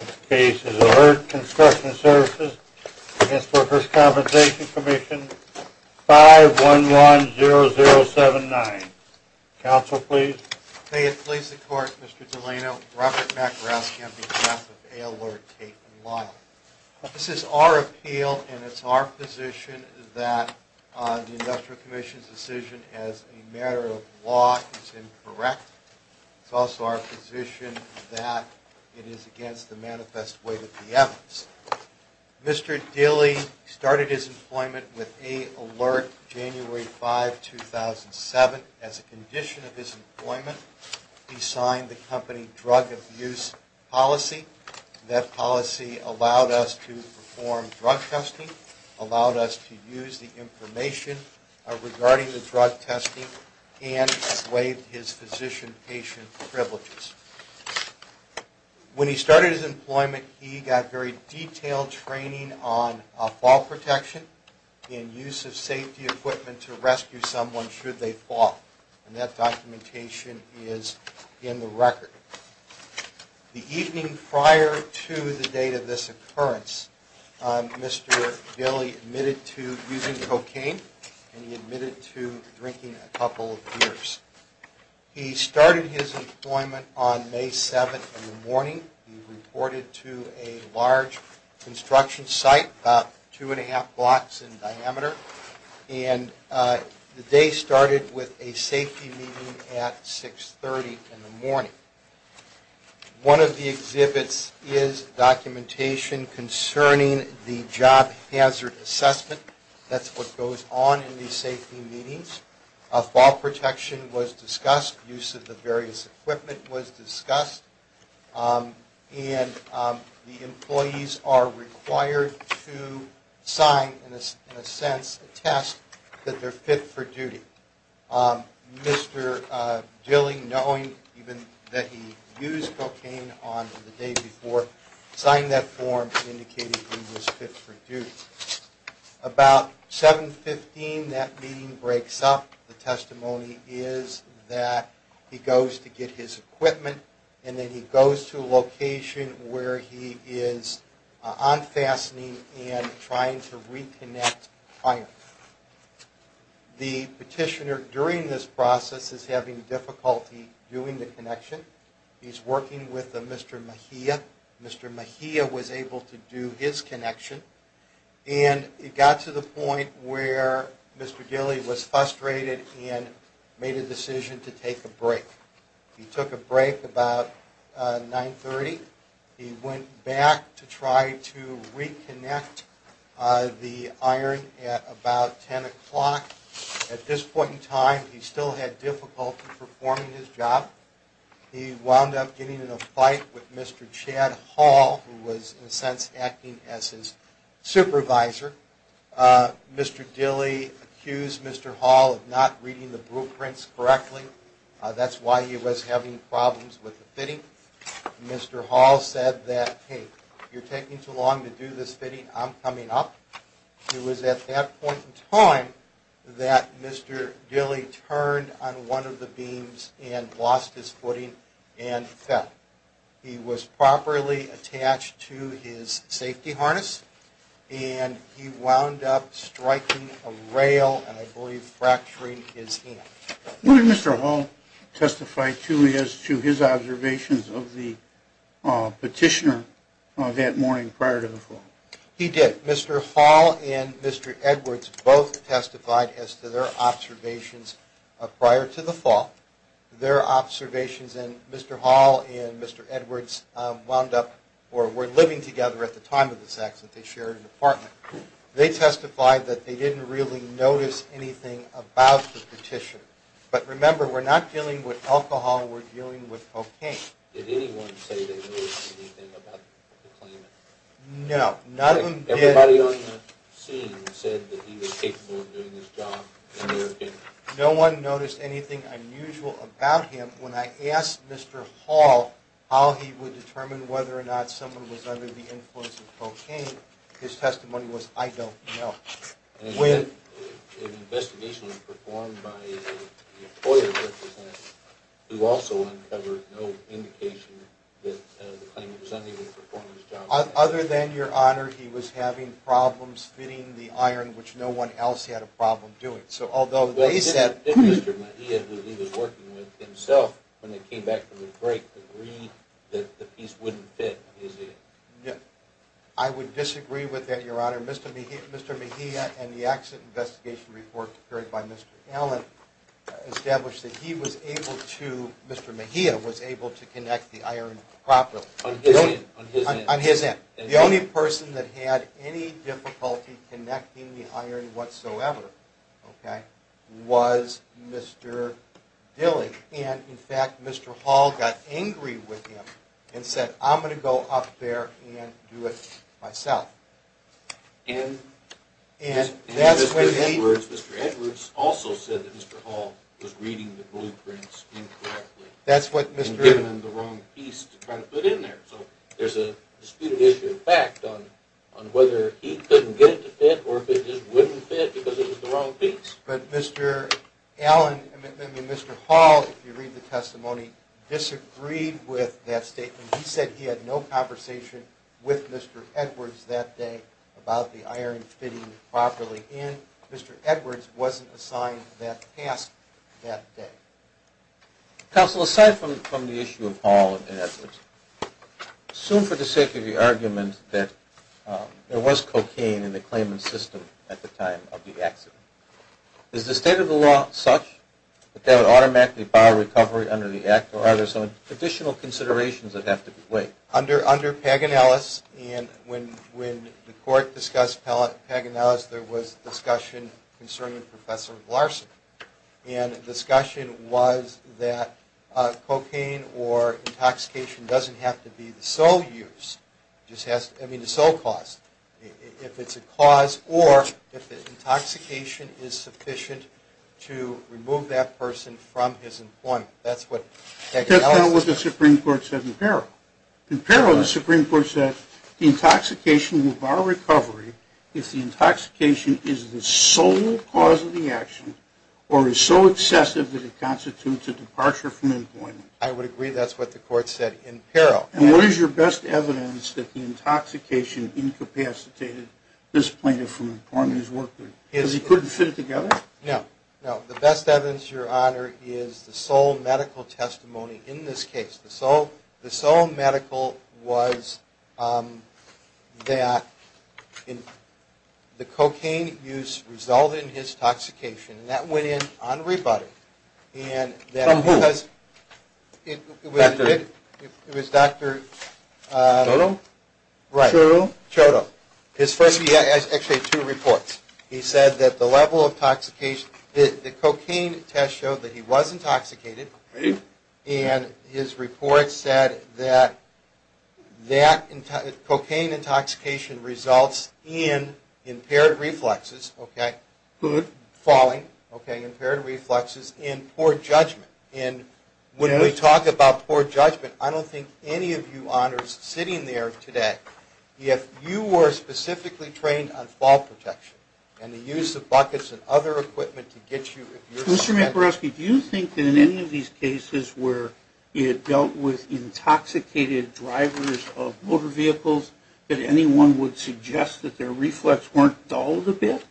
This case is A-LERT Construction Services v. Workers' Compensation Comm' 5-1-1-0-0-7-9. Counsel, please. May it please the Court, Mr. Delano, Robert McGrath here on behalf of A-LERT Tate & Lyle. This is our appeal, and it's our position that the Industrial Commission's decision as a matter of law is incorrect. It's also our position that it is against the manifest weight of the evidence. Mr. Dilley started his employment with A-LERT January 5, 2007. As a condition of his employment, he signed the company drug abuse policy. That policy allowed us to perform drug testing, allowed us to use the information regarding the drug testing, and waived his physician-patient privileges. When he started his employment, he got very detailed training on fall protection and use of safety equipment to rescue someone should they fall. And that documentation is in the record. The evening prior to the date of this occurrence, Mr. Dilley admitted to using cocaine, and he admitted to drinking a couple of beers. He started his employment on May 7 in the morning. He reported to a large construction site about two and a half blocks in diameter. And the day started with a safety meeting at 6.30 in the morning. One of the exhibits is documentation concerning the job hazard assessment. That's what goes on in these safety meetings. Fall protection was discussed. Use of the various equipment was discussed. And the employees are required to sign, in a sense, a test that they're fit for duty. Mr. Dilley, knowing even that he used cocaine on the day before, signed that form indicating he was fit for duty. About 7.15, that meeting breaks up. The testimony is that he goes to get his equipment, and then he goes to a location where he is unfastening and trying to reconnect fire. The petitioner during this process is having difficulty doing the connection. He's working with Mr. Mejia. Mr. Mejia was able to do his connection. And it got to the point where Mr. Dilley was frustrated and made a decision to take a break. He took a break about 9.30. He went back to try to reconnect the iron at about 10 o'clock. At this point in time, he still had difficulty performing his job. He wound up getting in a fight with Mr. Chad Hall, who was, in a sense, acting as his supervisor. Mr. Dilley accused Mr. Hall of not reading the blueprints correctly. That's why he was having problems with the fitting. Mr. Hall said that, hey, you're taking too long to do this fitting. I'm coming up. It was at that point in time that Mr. Dilley turned on one of the beams and lost his footing and fell. He was properly attached to his safety harness, and he wound up striking a rail and, I believe, fracturing his hand. Would Mr. Hall testify to his observations of the petitioner that morning prior to the fall? He did. Mr. Hall and Mr. Edwards both testified as to their observations prior to the fall. Their observations, and Mr. Hall and Mr. Edwards wound up or were living together at the time of this accident. They shared an apartment. They testified that they didn't really notice anything about the petitioner. But remember, we're not dealing with alcohol. We're dealing with cocaine. Did anyone say they noticed anything about the claimant? No, none of them did. Everybody on the scene said that he was capable of doing his job in New York. No one noticed anything unusual about him. When I asked Mr. Hall how he would determine whether or not someone was under the influence of cocaine, his testimony was, I don't know. An investigation was performed by the employer who also uncovered no indication that the claimant was unable to perform his job. Other than, Your Honor, he was having problems fitting the iron, which no one else had a problem doing. So although they said... But he didn't fit Mr. Mejia, who he was working with himself, when they came back from the break, the degree that the piece wouldn't fit, is it? I would disagree with that, Your Honor. Mr. Mejia and the accident investigation report prepared by Mr. Allen established that he was able to... Mr. Mejia was able to connect the iron properly. On his end? On his end. The only person that had any difficulty connecting the iron whatsoever was Mr. Dilling. And, in fact, Mr. Hall got angry with him and said, I'm going to go up there and do it myself. And Mr. Edwards also said that Mr. Hall was reading the blueprints incorrectly and giving him the wrong piece to try to put in there. So there's a disputed issue, in fact, on whether he couldn't get it to fit or if it just wouldn't fit because it was the wrong piece. But Mr. Allen, Mr. Hall, if you read the testimony, disagreed with that statement. He said he had no conversation with Mr. Edwards that day about the iron fitting properly in. Mr. Edwards wasn't assigned that task that day. Counsel, aside from the issue of Hall and Edwards, Assume for the sake of your argument that there was cocaine in the claimant's system at the time of the accident. Is the state of the law such that that would automatically bar recovery under the Act? Or are there some additional considerations that have to be weighed? Under Paganellis, and when the court discussed Paganellis, there was discussion concerning Professor Larson. And the discussion was that cocaine or intoxication doesn't have to be the sole use, I mean the sole cause. If it's a cause or if the intoxication is sufficient to remove that person from his employment. That's what Paganellis said. That's not what the Supreme Court said in peril. In peril, the Supreme Court said the intoxication will bar recovery if the intoxication is the sole cause of the action. Or is so excessive that it constitutes a departure from employment. I would agree that's what the court said in peril. And what is your best evidence that the intoxication incapacitated this plaintiff from his work? Because he couldn't fit it together? No. No, the best evidence, your honor, is the sole medical testimony in this case. The sole medical was that the cocaine use resulted in his intoxication. And that went in unrebutted. From who? It was Dr. Chodo? Right. Chodo. Chodo. His first, he actually had two reports. He said that the level of intoxication, the cocaine test showed that he was intoxicated. Really? And his report said that that cocaine intoxication results in impaired reflexes. Okay. Good. Falling. Okay. Impaired reflexes and poor judgment. And when we talk about poor judgment, I don't think any of you honors sitting there today, if you were specifically trained on fall protection and the use of buckets and other equipment to get you. Mr. Macaroski, do you think that in any of these cases where it dealt with intoxicated drivers of motor vehicles, that anyone would suggest that their reflexes weren't dulled a bit?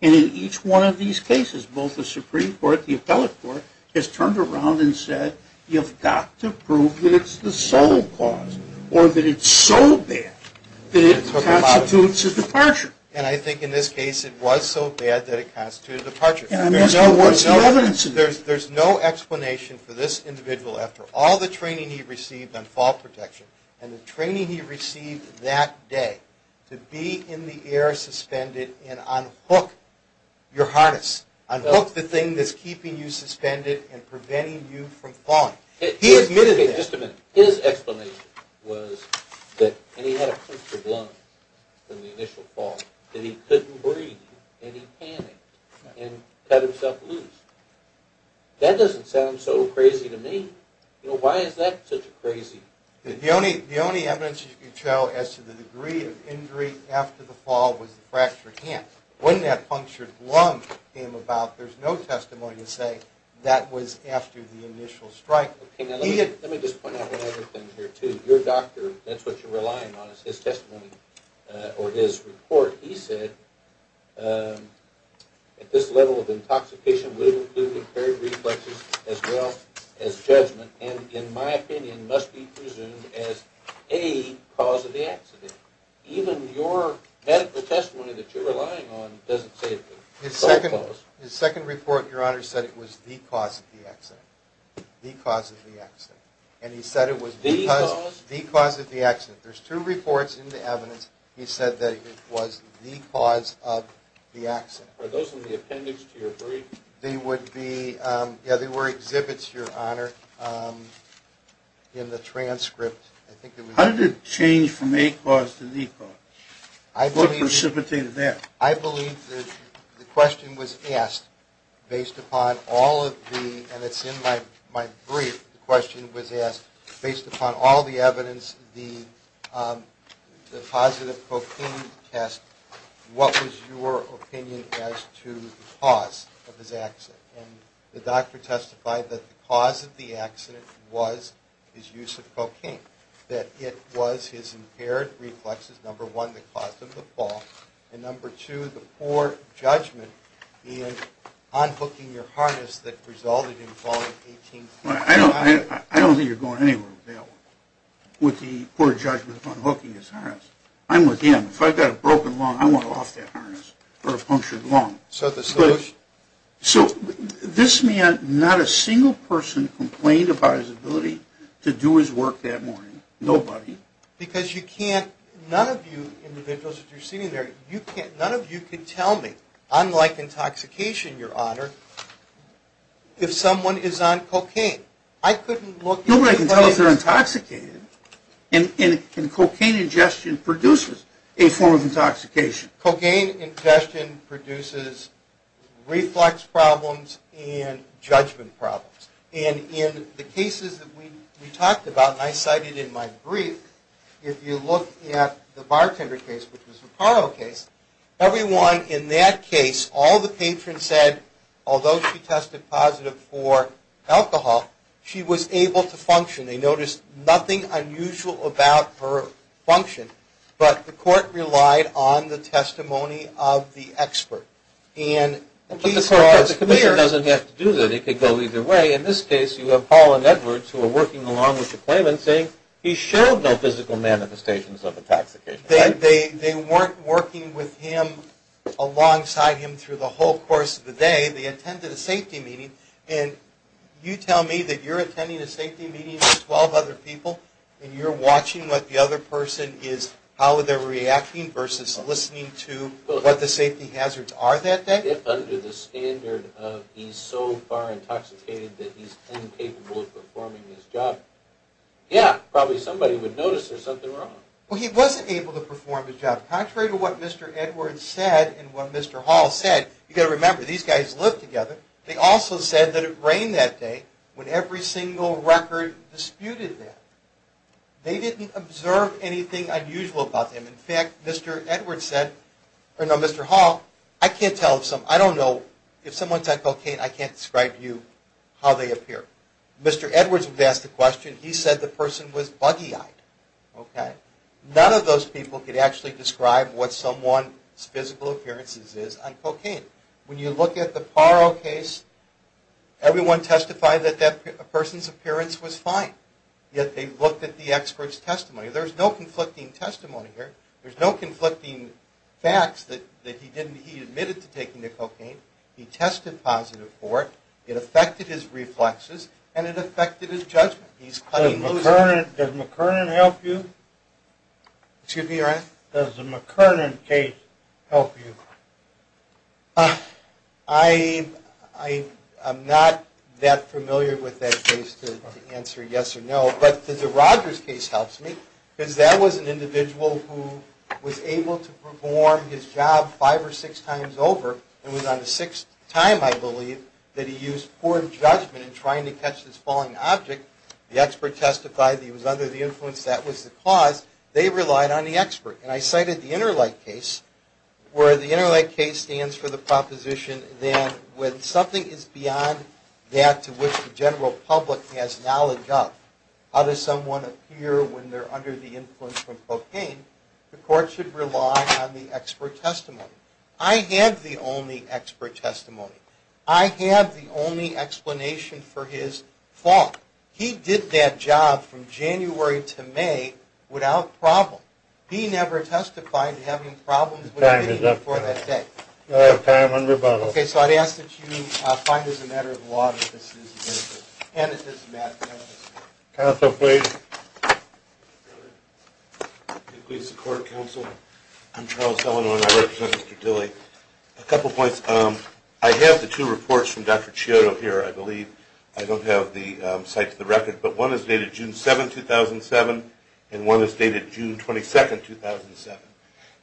And in each one of these cases, both the Supreme Court, the appellate court, has turned around and said, you've got to prove that it's the sole cause, or that it's so bad that it constitutes a departure. And I think in this case it was so bad that it constituted a departure. What's the evidence of that? There's no explanation for this individual after all the training he received on fall protection and the training he received that day to be in the air suspended and unhook your harness, unhook the thing that's keeping you suspended and preventing you from falling. Okay, just a minute. His explanation was that, and he had a punctured lung in the initial fall, that he couldn't breathe and he panicked and cut himself loose. That doesn't sound so crazy to me. You know, why is that such a crazy... The only evidence you can show as to the degree of injury after the fall was the fractured hand. When that punctured lung came about, there's no testimony to say that was after the initial strike. Let me just point out one other thing here too. Your doctor, that's what you're relying on, is his testimony, or his report. He said, at this level of intoxication would include impaired reflexes as well as judgment, and in my opinion must be presumed as a cause of the accident. Even your medical testimony that you're relying on doesn't say it's the sole cause. His second report, Your Honor, said it was the cause of the accident. The cause of the accident. And he said it was the cause of the accident. There's two reports in the evidence. He said that it was the cause of the accident. Are those in the appendix to your brief? They would be, yeah, they were exhibits, Your Honor, in the transcript. How did it change from a cause to the cause? What precipitated that? I believe the question was asked based upon all of the, and it's in my brief, the question was asked based upon all the evidence, the positive cocaine test, what was your opinion as to the cause of his accident? And the doctor testified that the cause of the accident was his use of cocaine, that it was his impaired reflexes, number one, that caused him to fall, and number two, the poor judgment in unhooking your harness that resulted in falling 18 feet. I don't think you're going anywhere with that one, with the poor judgment of unhooking his harness. I'm with him. If I've got a broken lung, I want to loft that harness for a punctured lung. So the solution? So this man, not a single person complained about his ability to do his work that morning. Nobody. Because you can't, none of you individuals that are sitting there, none of you can tell me, unlike intoxication, Your Honor, if someone is on cocaine. I couldn't look. Nobody can tell if they're intoxicated. And cocaine ingestion produces a form of intoxication. Cocaine ingestion produces reflex problems and judgment problems. And in the cases that we talked about, and I cited in my brief, if you look at the bartender case, which was a parole case, everyone in that case, all the patrons said, although she tested positive for alcohol, she was able to function. They noticed nothing unusual about her function. But the court relied on the testimony of the expert. But the commission doesn't have to do that. It could go either way. In this case, you have Paul and Edwards, who are working along with the claimant, saying he showed no physical manifestations of intoxication. They weren't working with him alongside him through the whole course of the day. They attended a safety meeting. And you tell me that you're attending a safety meeting with 12 other people and you're watching what the other person is, how they're reacting versus listening to what the safety hazards are that day? If under the standard of he's so far intoxicated that he's incapable of performing his job, yeah, probably somebody would notice there's something wrong. Well, he wasn't able to perform his job. Contrary to what Mr. Edwards said and what Mr. Hall said, you've got to remember, these guys lived together. They also said that it rained that day when every single record disputed that. They didn't observe anything unusual about him. In fact, Mr. Hall, I can't tell if someone's on cocaine. I can't describe to you how they appear. Mr. Edwards would ask the question. He said the person was buggy-eyed. None of those people could actually describe what someone's physical appearances is on cocaine. When you look at the Paro case, everyone testified that that person's appearance was fine, yet they looked at the expert's testimony. There's no conflicting testimony here. There's no conflicting facts that he admitted to taking the cocaine. He tested positive for it. It affected his reflexes, and it affected his judgment. Does McKernan help you? Excuse me, your Honor? Does the McKernan case help you? I am not that familiar with that case to answer yes or no, but the Rogers case helps me because that was an individual who was able to perform his job five or six times over. It was on the sixth time, I believe, that he used poor judgment in trying to catch this falling object. The expert testified that he was under the influence. That was the cause. They relied on the expert. And I cited the Interlake case, where the Interlake case stands for the proposition that when something is beyond that to which the general public has knowledge of, how does someone appear when they're under the influence from cocaine, the court should rely on the expert testimony. I have the only expert testimony. I have the only explanation for his fault. He did that job from January to May without problem. He never testified to having problems with anything before that day. You have time on rebuttal. Okay, so I'd ask that you find as a matter of law that this is an individual, and that this is a matter of justice. Counsel, please. Please support counsel. I'm Charles Delano, and I represent Mr. Dilley. A couple points. I have the two reports from Dr. Ciotto here, I believe. I don't have the site to the record, but one is dated June 7, 2007, and one is dated June 22, 2007.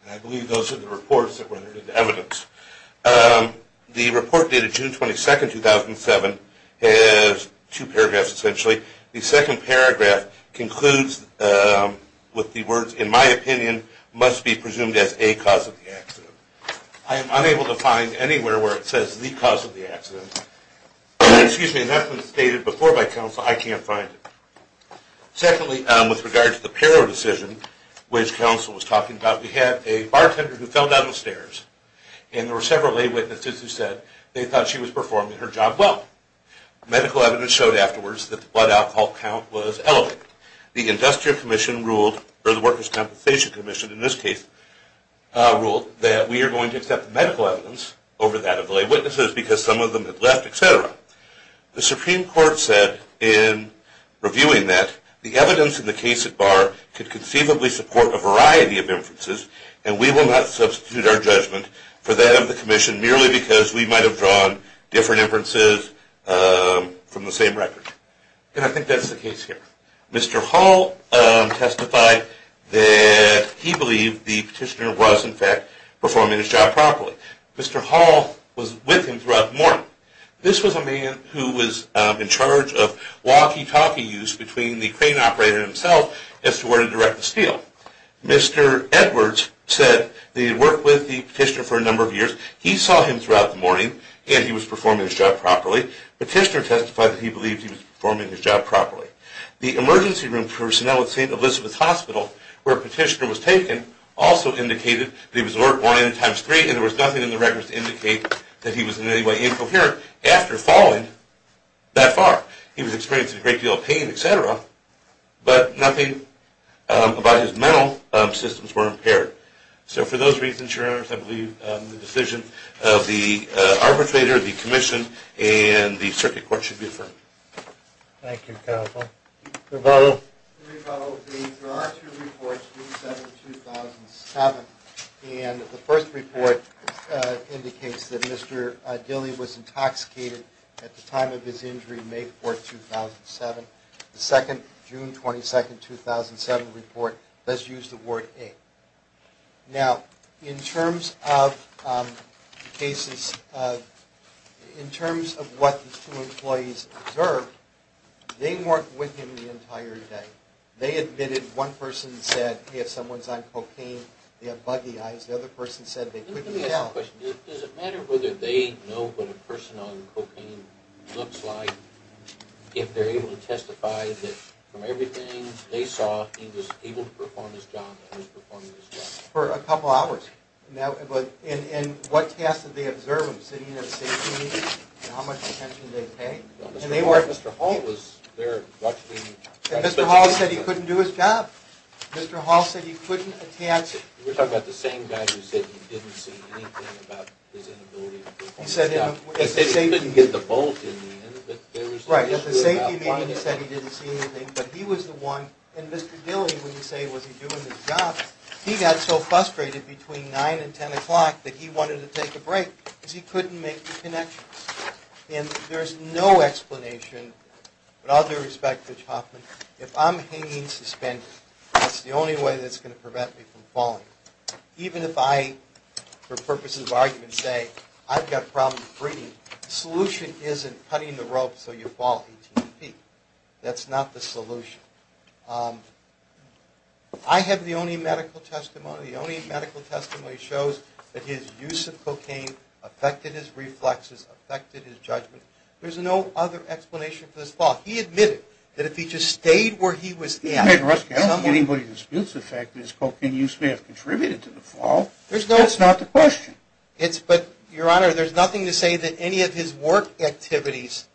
And I believe those are the reports that were evidence. The report dated June 22, 2007 has two paragraphs, essentially. The second paragraph concludes with the words, in my opinion, must be presumed as a cause of the accident. I am unable to find anywhere where it says the cause of the accident. Excuse me, that's been stated before by counsel. I can't find it. Secondly, with regard to the Paro decision, which counsel was talking about, we had a bartender who fell down the stairs, and there were several lay witnesses who said they thought she was performing her job well. Medical evidence showed afterwards that the blood alcohol count was elevated. The Industrial Commission ruled, or the Workers' Compensation Commission, in this case, ruled that we are going to accept the medical evidence over that of the lay witnesses because some of them had left, et cetera. The Supreme Court said in reviewing that, the evidence in the case at bar could conceivably support a variety of inferences, and we will not substitute our judgment for that of the Commission merely because we might have drawn different inferences from the same record. And I think that's the case here. Mr. Hall testified that he believed the petitioner was, in fact, performing his job properly. Mr. Hall was with him throughout the morning. This was a man who was in charge of walkie-talkie use between the crane operator and himself as to where to direct the steel. Mr. Edwards said that he had worked with the petitioner for a number of years. He saw him throughout the morning, and he was performing his job properly. The petitioner testified that he believed he was performing his job properly. The emergency room personnel at St. Elizabeth's Hospital, where the petitioner was taken, also indicated that he was at work morning times three, and there was nothing in the records to indicate that he was in any way incoherent after falling that far. He was experiencing a great deal of pain, et cetera, but nothing about his mental systems were impaired. So for those reasons, Your Honors, I believe the decision of the arbitrator, the Commission, and the Circuit Court should be affirmed. Thank you, counsel. Your Honor, there are two reports, June 7th, 2007, and the first report indicates that Mr. Dilley was intoxicated at the time of his injury, May 4th, 2007. The second, June 22nd, 2007, report does use the word ache. Now, in terms of cases, in terms of what these two employees observed, they worked with him the entire day. They admitted one person said if someone's on cocaine, they have buggy eyes. The other person said they couldn't tell. Let me ask a question. Does it matter whether they know what a person on cocaine looks like if they're able to testify that from everything they saw, he was able to perform his job, and was performing his job? For a couple hours. And what tasks did they observe him? Sitting at a safety meeting? How much attention did they pay? And they were at Mr. Hall's. He was there watching. And Mr. Hall said he couldn't do his job. Mr. Hall said he couldn't enhance it. You're talking about the same guy who said he didn't see anything about his inability to do his job. He said he didn't get the bolt in the end. Right, at the safety meeting he said he didn't see anything, but he was the one. And Mr. Dilley, when you say was he doing his job, he got so frustrated between 9 and 10 o'clock that he wanted to take a break because he couldn't make the connections. And there's no explanation, with all due respect to Hoffman, if I'm hanging suspended, that's the only way that's going to prevent me from falling. Even if I, for purposes of argument, say I've got problems breathing, the solution isn't putting the rope so you fall 18 feet. That's not the solution. I have the only medical testimony, the only medical testimony, that shows that his use of cocaine affected his reflexes, affected his judgment. There's no other explanation for this fault. He admitted that if he just stayed where he was at. I don't think anybody disputes the fact that his cocaine use may have contributed to the fault. That's not the question. But, Your Honor, there's nothing to say that any of his work activities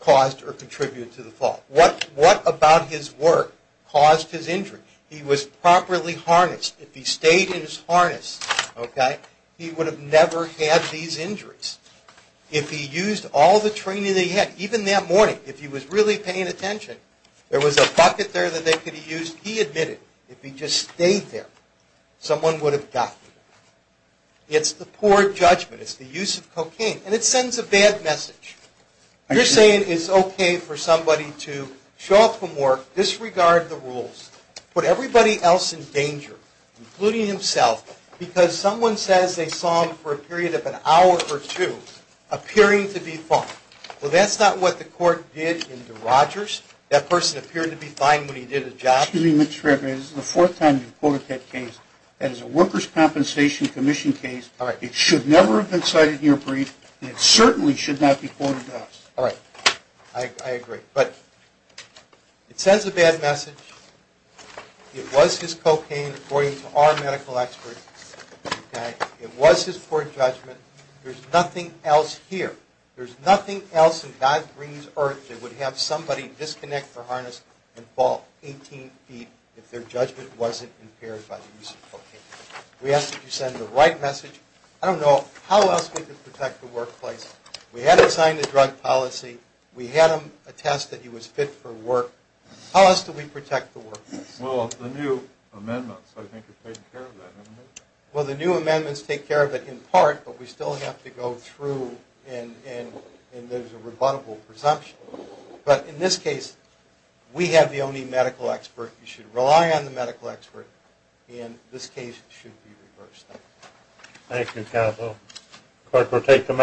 caused or contributed to the fault. What about his work caused his injury? He was properly harnessed. If he stayed in his harness, okay, he would have never had these injuries. If he used all the training that he had, even that morning, if he was really paying attention, there was a bucket there that they could have used, he admitted, if he just stayed there, someone would have gotten him. It's the poor judgment. It's the use of cocaine. And it sends a bad message. You're saying it's okay for somebody to show up from work, disregard the rules, put everybody else in danger, including himself, because someone says they saw him for a period of an hour or two, appearing to be fine. Well, that's not what the court did in DeRogers. That person appeared to be fine when he did his job. Excuse me, Mr. Fairbairn. This is the fourth time you've quoted that case. That is a Workers' Compensation Commission case. It should never have been cited in your brief, and it certainly should not be quoted else. All right. I agree. But it sends a bad message. It was his cocaine, according to our medical experts. It was his poor judgment. There's nothing else here. There's nothing else in God's green earth that would have somebody disconnect their harness and fall 18 feet if their judgment wasn't impaired by the use of cocaine. We ask that you send the right message. I don't know how else we could protect the workplace. We had to sign the drug policy. We had him attest that he was fit for work. How else do we protect the workplace? Well, the new amendments. I think you've taken care of that, haven't you? Well, the new amendments take care of it in part, but we still have to go through, and there's a rebuttable presumption. But in this case, we have the only medical expert. You should rely on the medical expert, and this case should be reversed. Thank you. Thank you, counsel.